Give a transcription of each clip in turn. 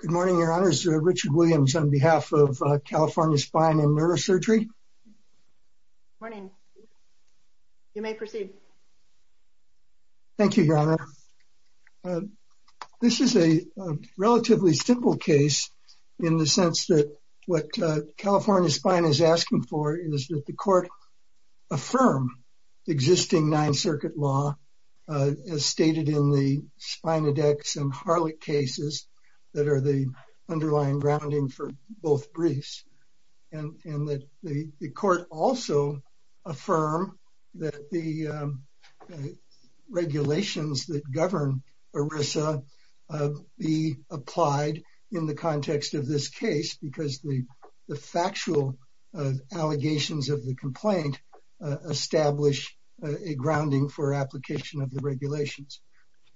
Good morning, Your Honors. Richard Williams on behalf of California Spine & Neurosurgery. Good morning. You may proceed. Thank you, Your Honor. This is a relatively simple case in the sense that what California Spine is asking for is that the court affirm existing Ninth Circuit law as stated in the Spina Dex and Harlech cases that are the underlying grounding for both briefs, and that the court also affirm that the regulations that govern ERISA be applied in the context of this case because the factual allegations of the complaint establish a grounding for application of the regulations.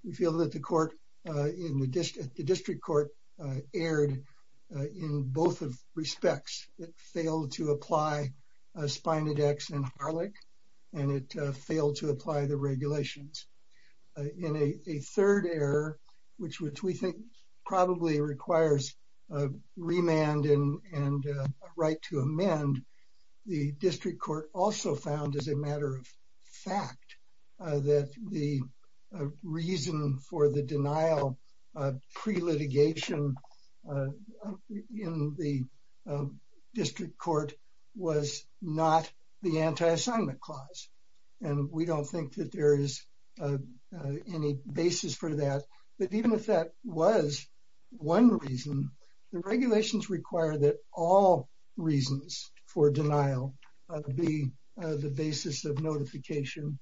We feel that the district court erred in both respects. It failed to apply Spina Dex and Harlech, and it failed to apply the regulations. In a third error, which we think probably requires a remand and a right to amend, the district court also found as a matter of fact that the reason for the denial pre-litigation in the district court was not the anti-assignment clause. And we don't think that there is any basis for that. But even if that was one reason, the regulations require that all reasons for denial be the basis of notification.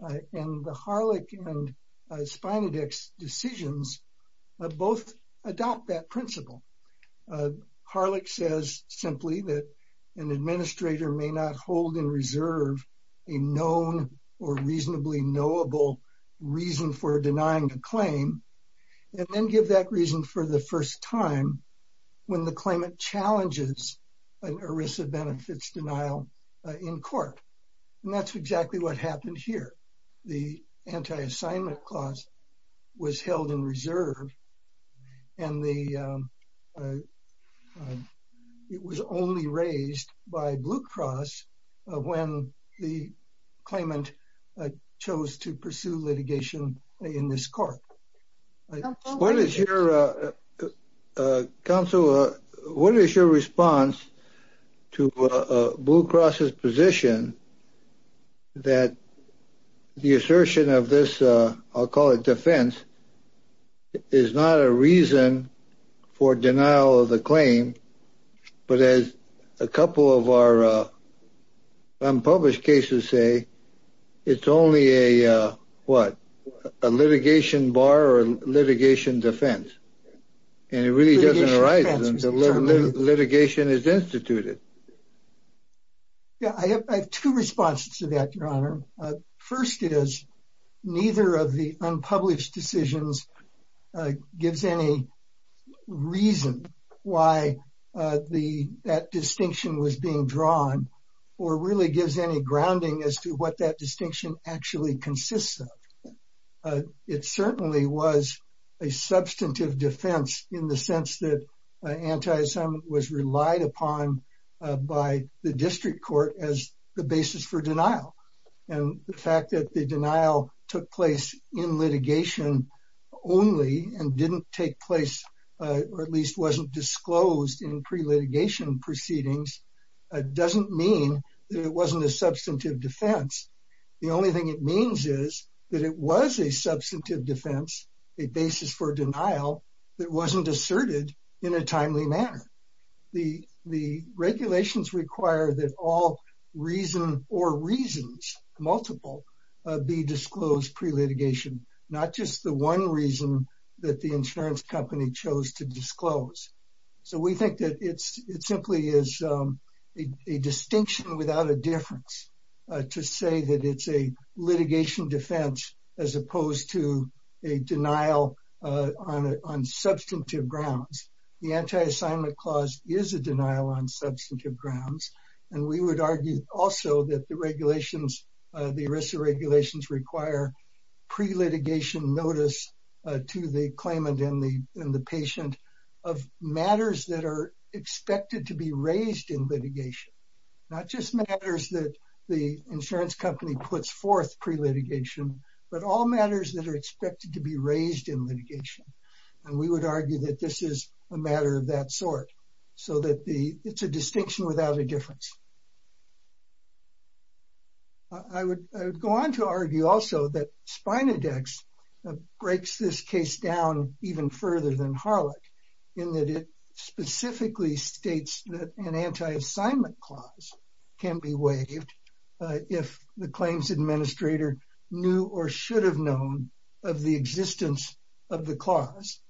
And the Harlech and Spina Dex decisions both adopt that principle. Harlech says simply that an administrator may not hold in reserve a known or reasonably knowable reason for denying a claim, and then give that reason for the first time when the claimant challenges an ERISA benefits denial in court. And that's exactly what happened here. The anti-assignment clause was held in reserve, and it was only raised by Blue Cross when the claimant chose to pursue litigation in this court. What is your response to Blue Cross's position that the assertion of this, I'll call it defense, is not a reason for denial of the claim, but as a couple of our unpublished cases say, it's only a litigation bar or litigation defense. And it really doesn't arise until litigation is instituted. I have two responses to that, Your Honor. First is neither of the unpublished decisions gives any reason why that distinction was being drawn, or really gives any grounding as to what that distinction actually consists of. It certainly was a substantive defense in the sense that anti-assignment was relied upon by the district court as the basis for denial. And the fact that the denial took place in litigation only and didn't take place, or at least wasn't disclosed in pre-litigation proceedings, doesn't mean that it wasn't a substantive defense. The only thing it means is that it was a substantive defense, a basis for denial that wasn't asserted in a timely manner. The regulations require that all reason or reasons, multiple, be disclosed pre-litigation, not just the one reason that the insurance company chose to disclose. So we think that it simply is a distinction without a difference to say that it's a litigation defense as opposed to a denial on substantive grounds. The anti-assignment clause is a denial on substantive grounds. And we would argue also that the regulations, the ERISA regulations require pre-litigation notice to the claimant and the patient of matters that are expected to be raised in litigation. Not just matters that the insurance company puts forth pre-litigation, but all matters that are expected to be raised in litigation. And we would argue that this is a matter of that sort, so that it's a distinction without a difference. I would go on to argue also that Spina Dex breaks this case down even further than Harlech, in that it specifically states that an anti-assignment clause can be waived if the claims administrator knew or should have known of the existence of the clause.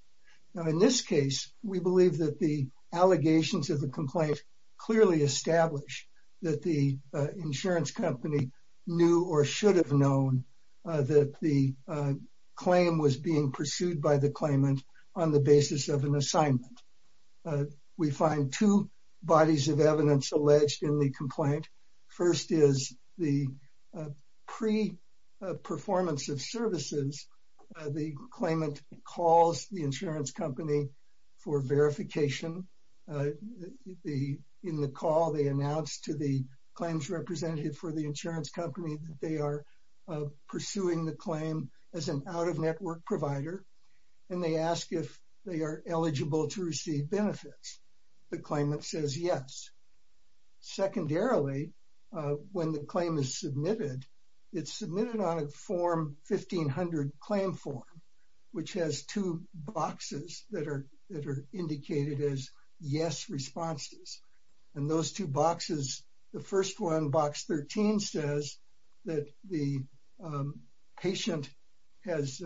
In this case, we believe that the allegations of the complaint clearly establish that the insurance company knew or should have known that the claim was being pursued by the claimant on the basis of an assignment. We find two bodies of evidence alleged in the complaint. First is the pre-performance of services. The claimant calls the insurance company for verification. In the call, they announced to the claims representative for the insurance company that they are pursuing the claim as an out-of-network provider. And they ask if they are eligible to receive benefits. The claimant says yes. Secondarily, when the claim is submitted, it's submitted on a form 1500 claim form, which has two boxes that are indicated as yes responses. And those two boxes, the first one, box 13, says that the patient has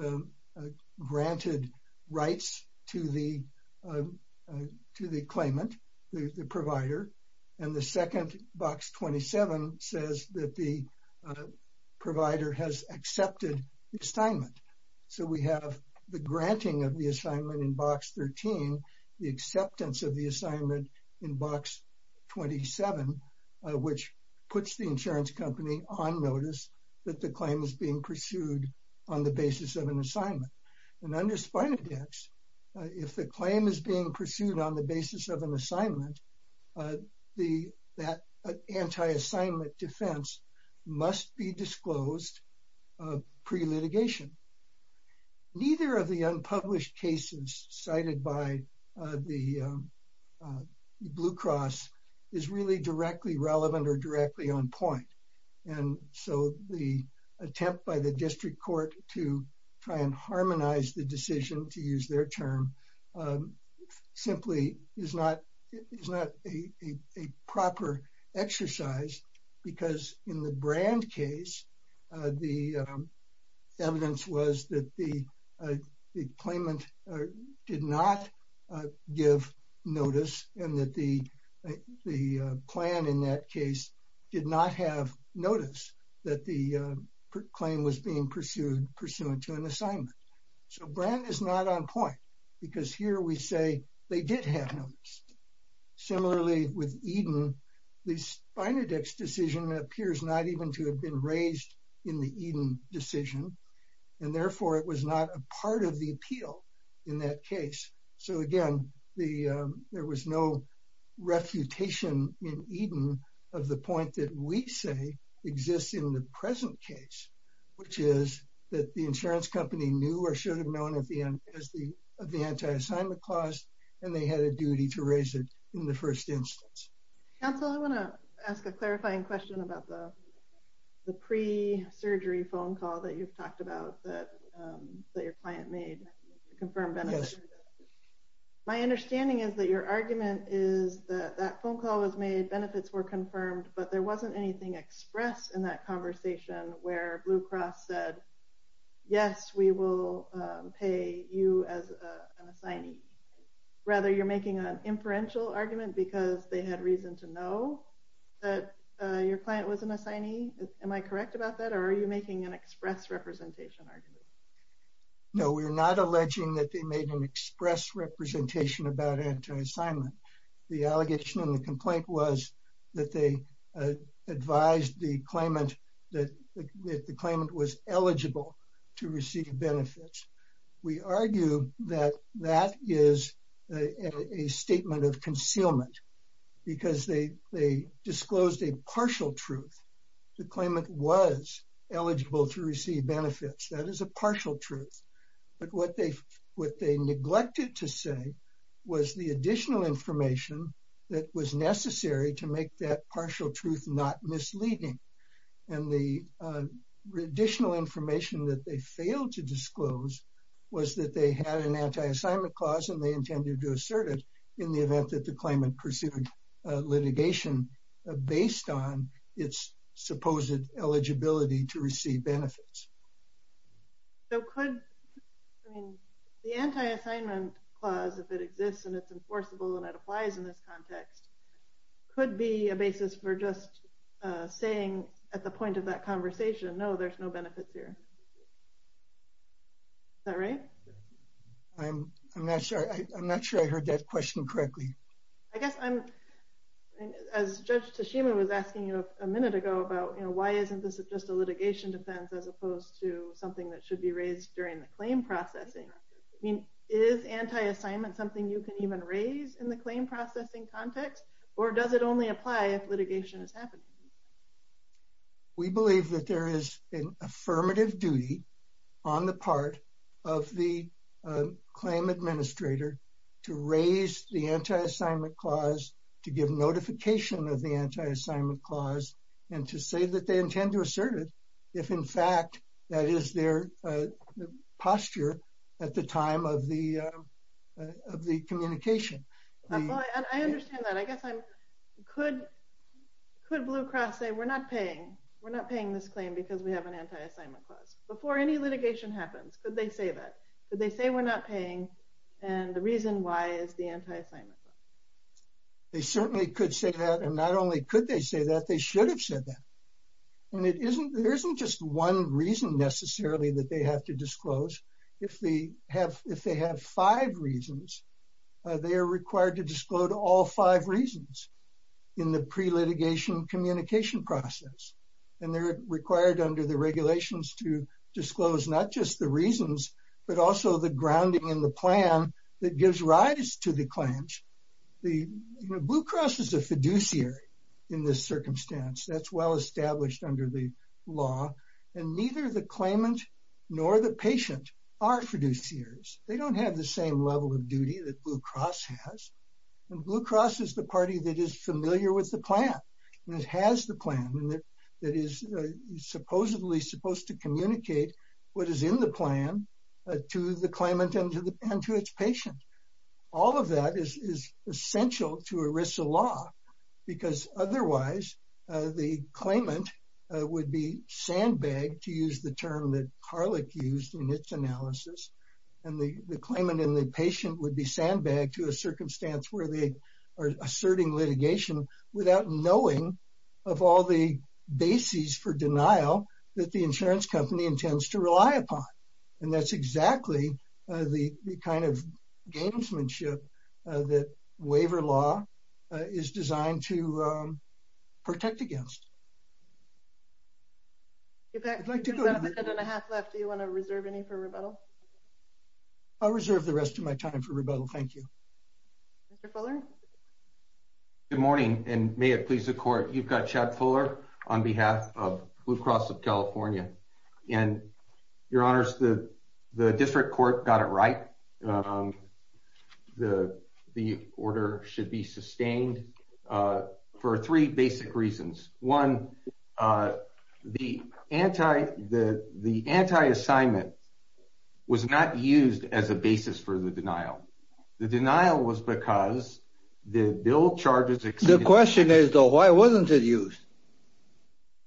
granted rights to the claimant, the provider. And the second, box 27, says that the provider has accepted the assignment. So we have the granting of the assignment in box 13, the acceptance of the assignment in box 27, which puts the insurance company on notice that the claim is being pursued on the basis of an assignment. And under Spina Dex, if the claim is being pursued on the basis of an assignment, that anti-assignment defense must be disclosed pre-litigation. Neither of the unpublished cases cited by the Blue Cross is really directly relevant or directly on point. And so the attempt by the district court to try and harmonize the decision, to use their term, simply is not a proper exercise. Because in the Brand case, the evidence was that the claimant did not give notice and that the plan in that case did not have notice that the claim was being pursued pursuant to an assignment. So Brand is not on point because here we say they did have notice. Similarly, with Eden, the Spina Dex decision appears not even to have been raised in the Eden decision. And therefore, it was not a part of the appeal in that case. So again, there was no refutation in Eden of the point that we say exists in the present case. Which is that the insurance company knew or should have known of the anti-assignment clause and they had a duty to raise it in the first instance. Counsel, I want to ask a clarifying question about the pre-surgery phone call that you've talked about that your client made to confirm benefits. My understanding is that your argument is that that phone call was made, benefits were confirmed, but there wasn't anything expressed in that conversation where Blue Cross said, yes, we will pay you as an assignee. Rather, you're making an inferential argument because they had reason to know that your client was an assignee. Am I correct about that? Or are you making an express representation argument? No, we're not alleging that they made an express representation about anti-assignment. The allegation in the complaint was that they advised the claimant that the claimant was eligible to receive benefits. We argue that that is a statement of concealment because they disclosed a partial truth. The claimant was eligible to receive benefits. That is a partial truth. But what they neglected to say was the additional information that was necessary to make that partial truth not misleading. And the additional information that they failed to disclose was that they had an anti-assignment clause and they intended to assert it in the event that the claimant pursued litigation based on its supposed eligibility to receive benefits. So could the anti-assignment clause, if it exists and it's enforceable and it applies in this context, could be a basis for just saying at the point of that conversation, no, there's no benefits here. Is that right? I'm not sure I heard that question correctly. I guess I'm, as Judge Tashima was asking you a minute ago about, you know, why isn't this just a litigation defense as opposed to something that should be raised during the claim processing? I mean, is anti-assignment something you can even raise in the claim processing context? Or does it only apply if litigation is happening? We believe that there is an affirmative duty on the part of the claim administrator to raise the anti-assignment clause, to give notification of the anti-assignment clause, and to say that they intend to assert it if in fact that is their posture at the time of the communication. I understand that. I guess I'm, could Blue Cross say we're not paying, we're not paying this claim because we have an anti-assignment clause? Before any litigation happens, could they say that? Could they say we're not paying and the reason why is the anti-assignment clause? They certainly could say that. And not only could they say that, they should have said that. And it isn't, there isn't just one reason necessarily that they have to disclose. If they have, if they have five reasons, they are required to disclose all five reasons in the pre-litigation communication process. And they're required under the regulations to disclose not just the reasons, but also the grounding in the plan that gives rise to the claims. Blue Cross is a fiduciary in this circumstance. That's well established under the law. And neither the claimant nor the patient are fiduciaries. They don't have the same level of duty that Blue Cross has. And Blue Cross is the party that is familiar with the plan and has the plan and that is supposedly supposed to communicate what is in the plan to the claimant and to its patient. All of that is essential to ERISA law because otherwise the claimant would be sandbagged, to use the term that Harlech used in its analysis. And the claimant and the patient would be sandbagged to a circumstance where they are asserting litigation without knowing of all the bases for denial that the insurance company intends to rely upon. And that's exactly the kind of gamesmanship that waiver law is designed to protect against. Do you want to reserve any for rebuttal? I'll reserve the rest of my time for rebuttal. Thank you. Mr. Fuller? Good morning and may it please the court. You've got Chad Fuller on behalf of Blue Cross of California. And your honors, the district court got it right. The order should be sustained for three basic reasons. One, the anti-assignment was not used as a basis for the denial. The denial was because the bill charges exceeded. The question is, though, why wasn't it used?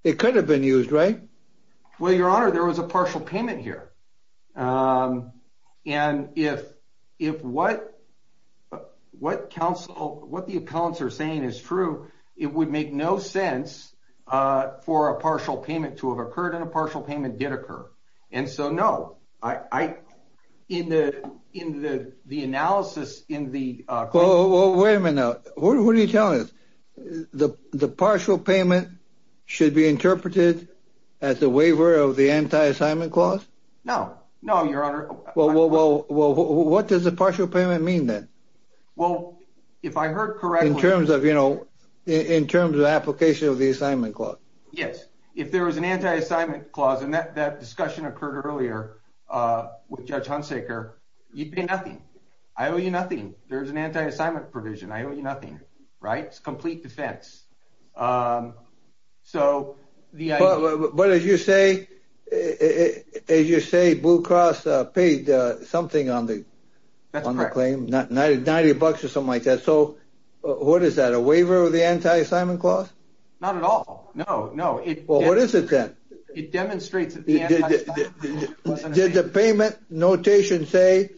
It could have been used, right? Well, your honor, there was a partial payment here. And if what the appellants are saying is true, it would make no sense for a partial payment to have occurred and a partial payment did occur. And so, no. In the analysis in the- Well, wait a minute now. What are you telling us? The partial payment should be interpreted as a waiver of the anti-assignment clause? No, no, your honor. Well, what does a partial payment mean then? Well, if I heard correctly- In terms of, you know, in terms of application of the assignment clause. Yes. If there was an anti-assignment clause, and that discussion occurred earlier with Judge Hunsaker, you'd pay nothing. I owe you nothing. There's an anti-assignment provision. I owe you nothing. Right? It's complete defense. So, the idea- But as you say, Blue Cross paid something on the claim, 90 bucks or something like that. So, what is that, a waiver of the anti-assignment clause? Not at all. No, no. Well, what is it then? It demonstrates that the anti-assignment- Did the payment notation say,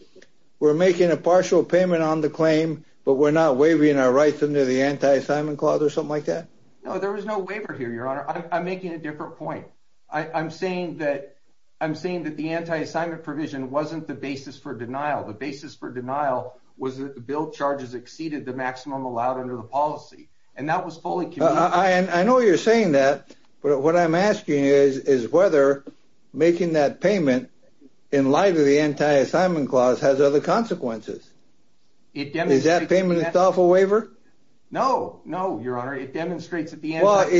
we're making a partial payment on the claim, but we're not waiving our rights under the anti-assignment clause or something like that? No, there was no waiver here, your honor. I'm making a different point. I'm saying that the anti-assignment provision wasn't the basis for denial. The basis for denial was that the bill charges exceeded the maximum allowed under the policy. And that was fully communicated- I know you're saying that, but what I'm asking is whether making that payment in light of the anti-assignment clause has other consequences. Is that payment itself a waiver? No, no, your honor. It demonstrates that the anti-assignment-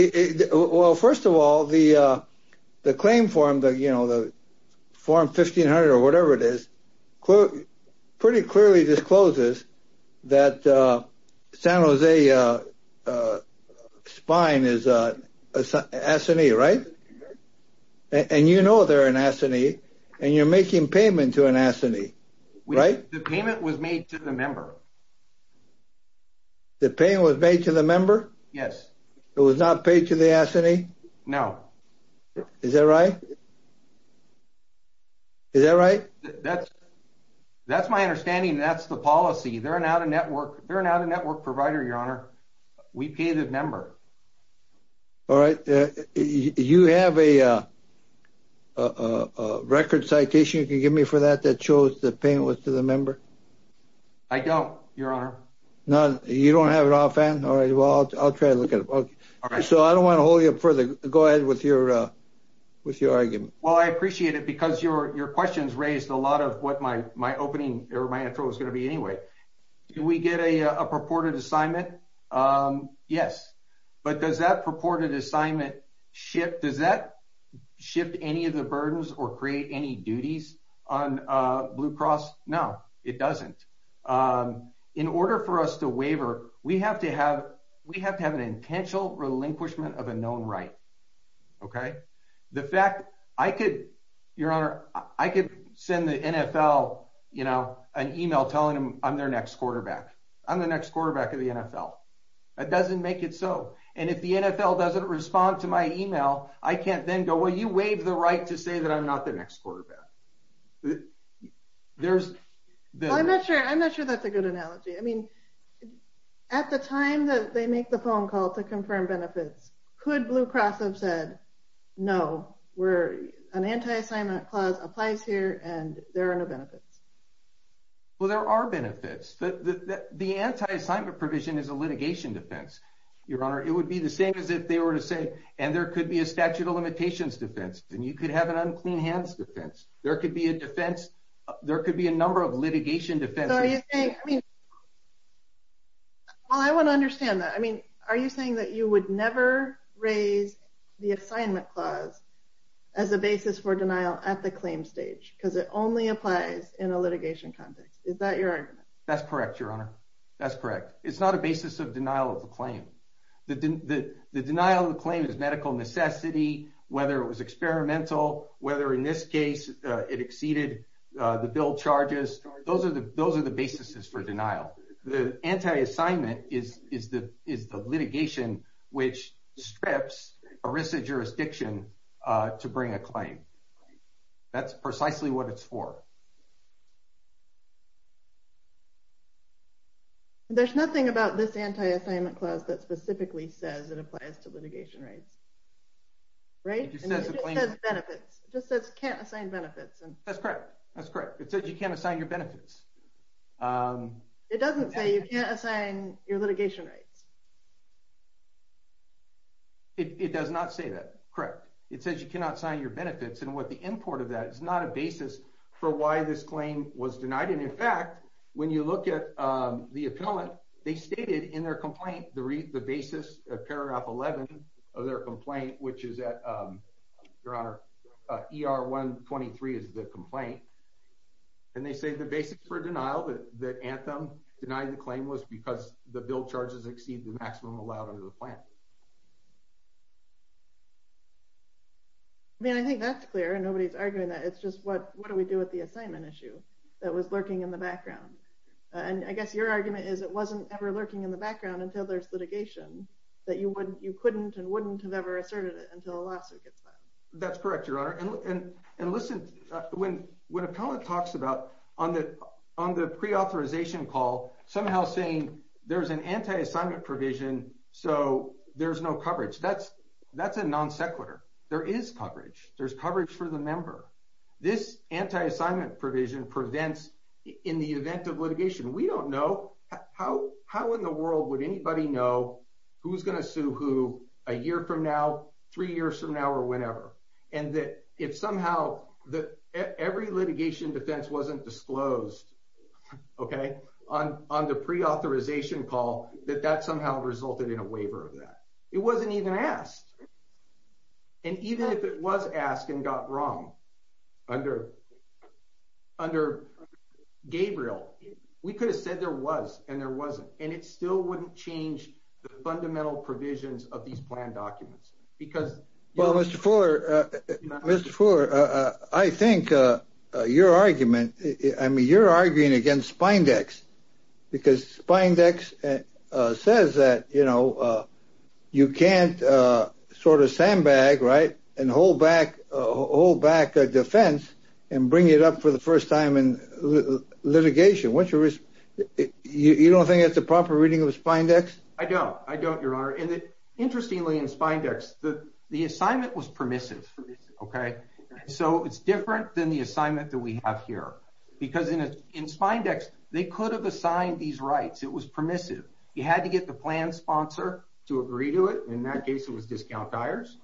Spine is an S&E, right? And you know they're an S&E, and you're making payment to an S&E, right? The payment was made to the member. The payment was made to the member? Yes. It was not paid to the S&E? No. Is that right? Is that right? That's my understanding, and that's the policy. They're not a network provider, your honor. We pay the member. All right. You have a record citation you can give me for that that shows the payment was to the member? I don't, your honor. You don't have it offhand? All right, well, I'll try to look at it. So I don't want to hold you up further. Go ahead with your argument. Well, I appreciate it because your questions raised a lot of what my opening or my intro is going to be anyway. Did we get a purported assignment? Yes. But does that purported assignment shift any of the burdens or create any duties on Blue Cross? No, it doesn't. In order for us to waiver, we have to have an intentional relinquishment of a known right, okay? The fact I could, your honor, I could send the NFL, you know, an e-mail telling them I'm their next quarterback. I'm the next quarterback of the NFL. That doesn't make it so. And if the NFL doesn't respond to my e-mail, I can't then go, well, you waived the right to say that I'm not the next quarterback. I'm not sure that's a good analogy. I mean, at the time that they make the phone call to confirm benefits, could Blue Cross have said, no, an anti-assignment clause applies here and there are no benefits? Well, there are benefits. The anti-assignment provision is a litigation defense, your honor. It would be the same as if they were to say, and there could be a statute of limitations defense, and you could have an unclean hands defense. There could be a defense. There could be a number of litigation defenses. So are you saying, I mean, well, I want to understand that. I mean, are you saying that you would never raise the assignment clause as a basis for denial at the claim stage because it only applies in a litigation context? Is that your argument? That's correct, your honor. That's correct. It's not a basis of denial of the claim. The denial of the claim is medical necessity, whether it was experimental, whether in this case it exceeded the bill charges. Those are the basis for denial. The anti-assignment is the litigation which strips a risk of jurisdiction to bring a claim. That's precisely what it's for. There's nothing about this anti-assignment clause that specifically says it applies to litigation rights, right? It just says benefits. It just says can't assign benefits. That's correct. That's correct. It says you can't assign your benefits. It doesn't say you can't assign your litigation rights. It does not say that. Correct. It says you cannot sign your benefits. And the import of that is not a basis for why this claim was denied. And, in fact, when you look at the appellant, they stated in their complaint the basis of paragraph 11 of their complaint, which is at, Your Honor, ER 123 is the complaint. And they say the basis for denial that Anthem denied the claim was because the bill charges exceeded the maximum allowed under the plan. I mean, I think that's clear. Nobody's arguing that. It's just what do we do with the assignment issue that was lurking in the background? And I guess your argument is it wasn't ever lurking in the background until there's litigation, that you couldn't and wouldn't have ever asserted it until a lawsuit gets filed. That's correct, Your Honor. And listen, when appellant talks about on the preauthorization call somehow saying there's an anti-assignment provision so there's no coverage, that's a non sequitur. There is coverage. There's coverage for the member. This anti-assignment provision prevents in the event of litigation. We don't know. How in the world would anybody know who's going to sue who a year from now, three years from now, or whenever? And that if somehow every litigation defense wasn't disclosed, okay, on the preauthorization call, that that somehow resulted in a waiver of that. It wasn't even asked. And even if it was asked and got wrong under Gabriel, we could have said there was and there wasn't. And it still wouldn't change the fundamental provisions of these plan documents. Well, Mr. Fuller, Mr. Fuller, I think your argument, I mean, you're arguing against Spindex because Spindex says that, you know, you can't sort of sandbag, right, and hold back a defense and bring it up for the first time in litigation. You don't think that's a proper reading of Spindex? I don't. I don't, Your Honor. Interestingly, in Spindex, the assignment was permissive, okay? So it's different than the assignment that we have here. Because in Spindex, they could have assigned these rights. It was permissive. You had to get the plan sponsor to agree to it. In that case, it was discount hires.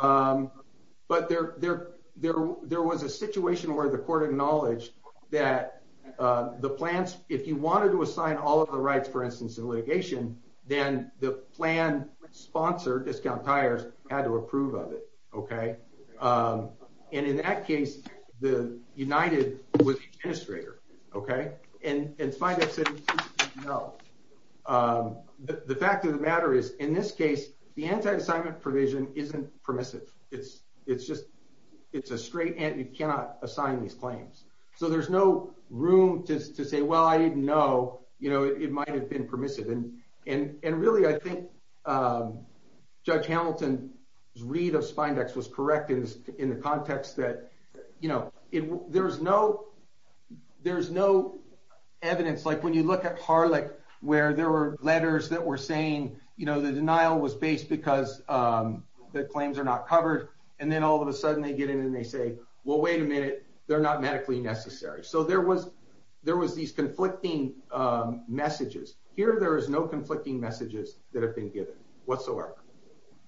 But there was a situation where the court acknowledged that the plans, if you wanted to assign all of the rights, for instance, in litigation, then the plan sponsor, discount hires, had to approve of it, okay? And in that case, United was the administrator, okay? And Spindex said no. The fact of the matter is, in this case, the anti-assignment provision isn't permissive. It's just a straight and you cannot assign these claims. So there's no room to say, well, I didn't know. You know, it might have been permissive. And really, I think Judge Hamilton's read of Spindex was correct in the context that, you know, there's no evidence. Like when you look at Harlech, where there were letters that were saying, you know, the denial was based because the claims are not covered. And then all of a sudden they get in and they say, well, wait a minute, they're not medically necessary. So there was these conflicting messages. Here there is no conflicting messages that have been given whatsoever.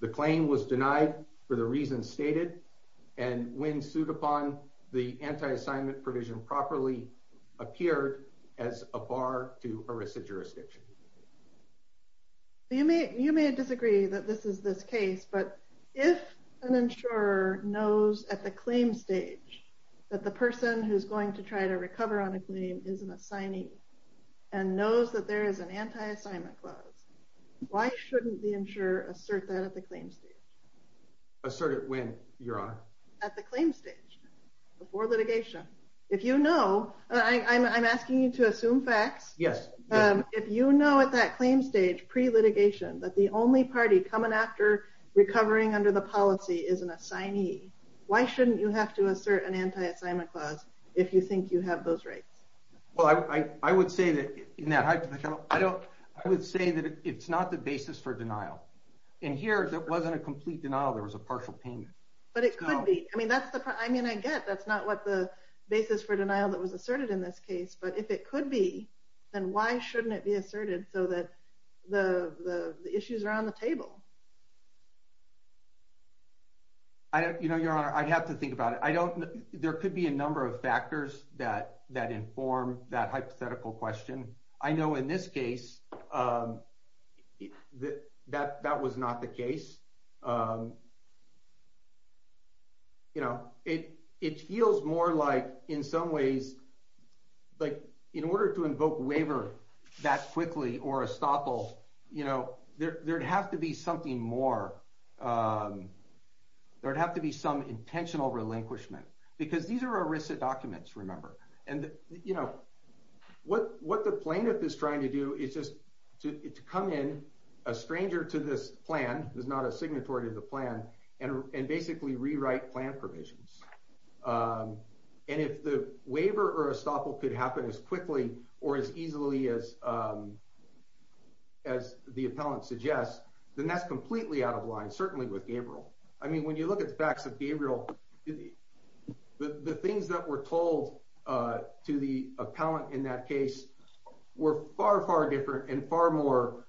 The claim was denied for the reasons stated. And when sued upon, the anti-assignment provision properly appeared as a bar to ERISA jurisdiction. You may disagree that this is this case, but if an insurer knows at the claim stage that the person who's going to try to recover on a claim is an assignee and knows that there is an anti-assignment clause, why shouldn't the insurer assert that at the claim stage? Assert it when, Your Honor? At the claim stage, before litigation. If you know, I'm asking you to assume facts. Yes. If you know at that claim stage, pre-litigation, that the only party coming after recovering under the policy is an assignee, why shouldn't you have to assert an anti-assignment clause if you think you have those rights? Well, I would say that it's not the basis for denial. In here, there wasn't a complete denial. There was a partial payment. But it could be. I mean, I get that's not what the basis for denial that was asserted in this case. But if it could be, then why shouldn't it be asserted so that the issues are on the table? You know, Your Honor, I'd have to think about it. There could be a number of factors that inform that hypothetical question. I know in this case, that was not the case. You know, it feels more like, in some ways, like in order to invoke waiver that quickly or estoppel, you know, there'd have to be something more. There'd have to be some intentional relinquishment. Because these are ERISA documents, remember. And, you know, what the plaintiff is trying to do is just to come in, a stranger to this plan, who's not a signatory to the plan, and basically rewrite plan provisions. And if the waiver or estoppel could happen as quickly or as easily as the appellant suggests, then that's completely out of line, certainly with Gabriel. I mean, when you look at the facts of Gabriel, the things that were told to the appellant in that case were far, far different and far more,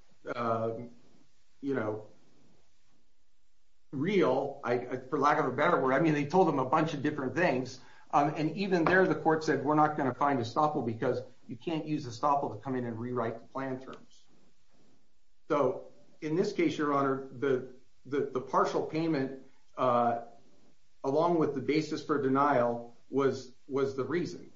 you know, real, for lack of a better word. I mean, they told him a bunch of different things. And even there, the court said, we're not going to find estoppel because you can't use estoppel to come in and rewrite the plan terms. So in this case, Your Honor, the partial payment, along with the basis for denial, was the reason.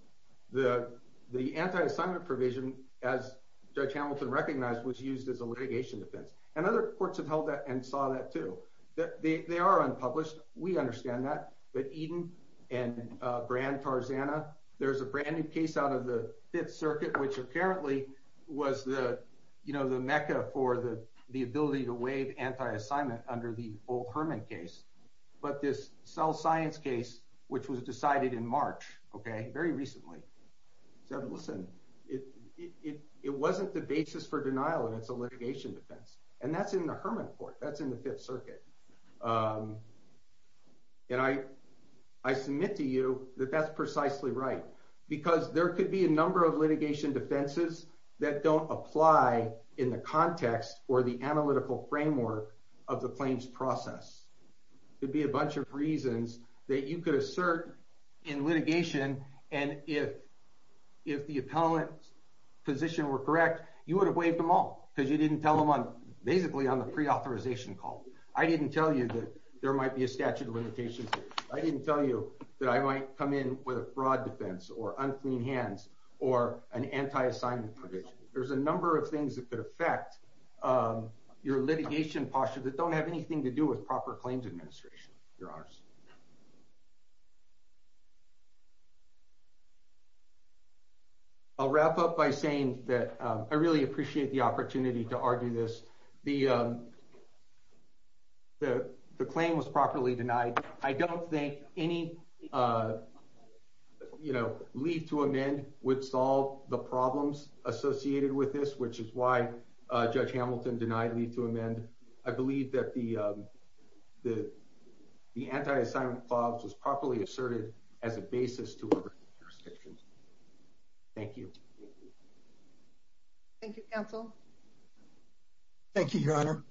The anti-assignment provision, as Judge Hamilton recognized, was used as a litigation defense. And other courts have held that and saw that, too. They are unpublished. We understand that. But Eden and Brand, Tarzana, there's a brand-new case out of the Fifth Circuit, which apparently was the mecca for the ability to waive anti-assignment under the old Herman case. But this cell science case, which was decided in March, okay, very recently, said, listen, it wasn't the basis for denial, and it's a litigation defense. And that's in the Herman court. That's in the Fifth Circuit. And I submit to you that that's precisely right. Because there could be a number of litigation defenses that don't apply in the context or the analytical framework of the claims process. There could be a bunch of reasons that you could assert in litigation. And if the appellant's position were correct, you would have waived them all because you didn't tell them basically on the pre-authorization call. I didn't tell you that there might be a statute of limitations. I didn't tell you that I might come in with a fraud defense or unclean hands or an anti-assignment provision. There's a number of things that could affect your litigation posture that don't have anything to do with proper claims administration, Your Honors. I'll wrap up by saying that I really appreciate the opportunity to argue this. The claim was properly denied. I don't think any leave to amend would solve the problems associated with this, which is why Judge Hamilton denied leave to amend. I believe that the anti-assignment clause was properly asserted as a basis to our jurisdiction. Thank you. Thank you, Counsel. Thank you, Your Honor.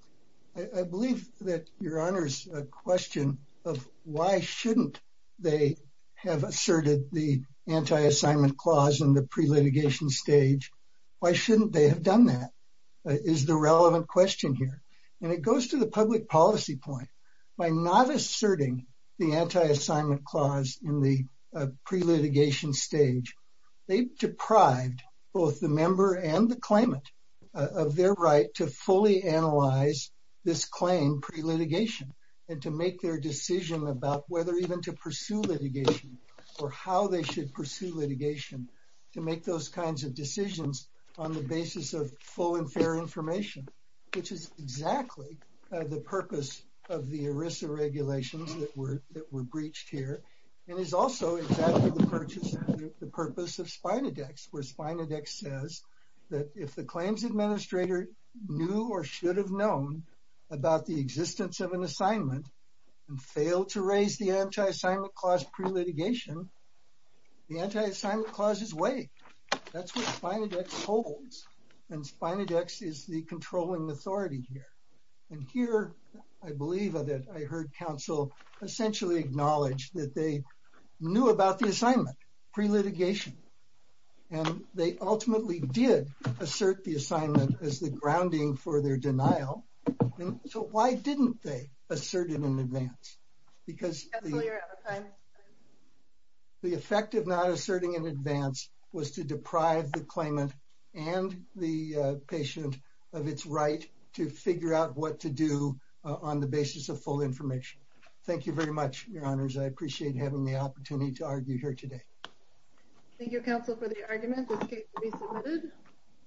I believe that Your Honor's question of why shouldn't they have asserted the anti-assignment clause in the pre-litigation stage, why shouldn't they have done that, is the relevant question here. It goes to the public policy point. By not asserting the anti-assignment clause in the pre-litigation stage, they've deprived both the member and the claimant of their right to fully analyze this claim pre-litigation and to make their decision about whether even to pursue litigation or how they should pursue litigation to make those kinds of decisions on the basis of full and fair information, which is exactly the purpose of the ERISA regulations that were breached here and is also exactly the purpose of Spinodex, where Spinodex says that if the claims administrator knew or should have known about the existence of an assignment and failed to raise the anti-assignment clause pre-litigation, the anti-assignment clause is way. That's what Spinodex holds and Spinodex is the controlling authority here. And here, I believe that I heard Counsel essentially acknowledge that they knew about the assignment pre-litigation and they ultimately did assert the assignment as the grounding for their denial. So why didn't they assert it in advance? The effect of not asserting in advance was to deprive the claimant and the patient of its right to figure out what to do on the basis of full information. Thank you very much, Your Honors. I appreciate having the opportunity to argue here today. Thank you, Counsel, for the argument. This case can be submitted.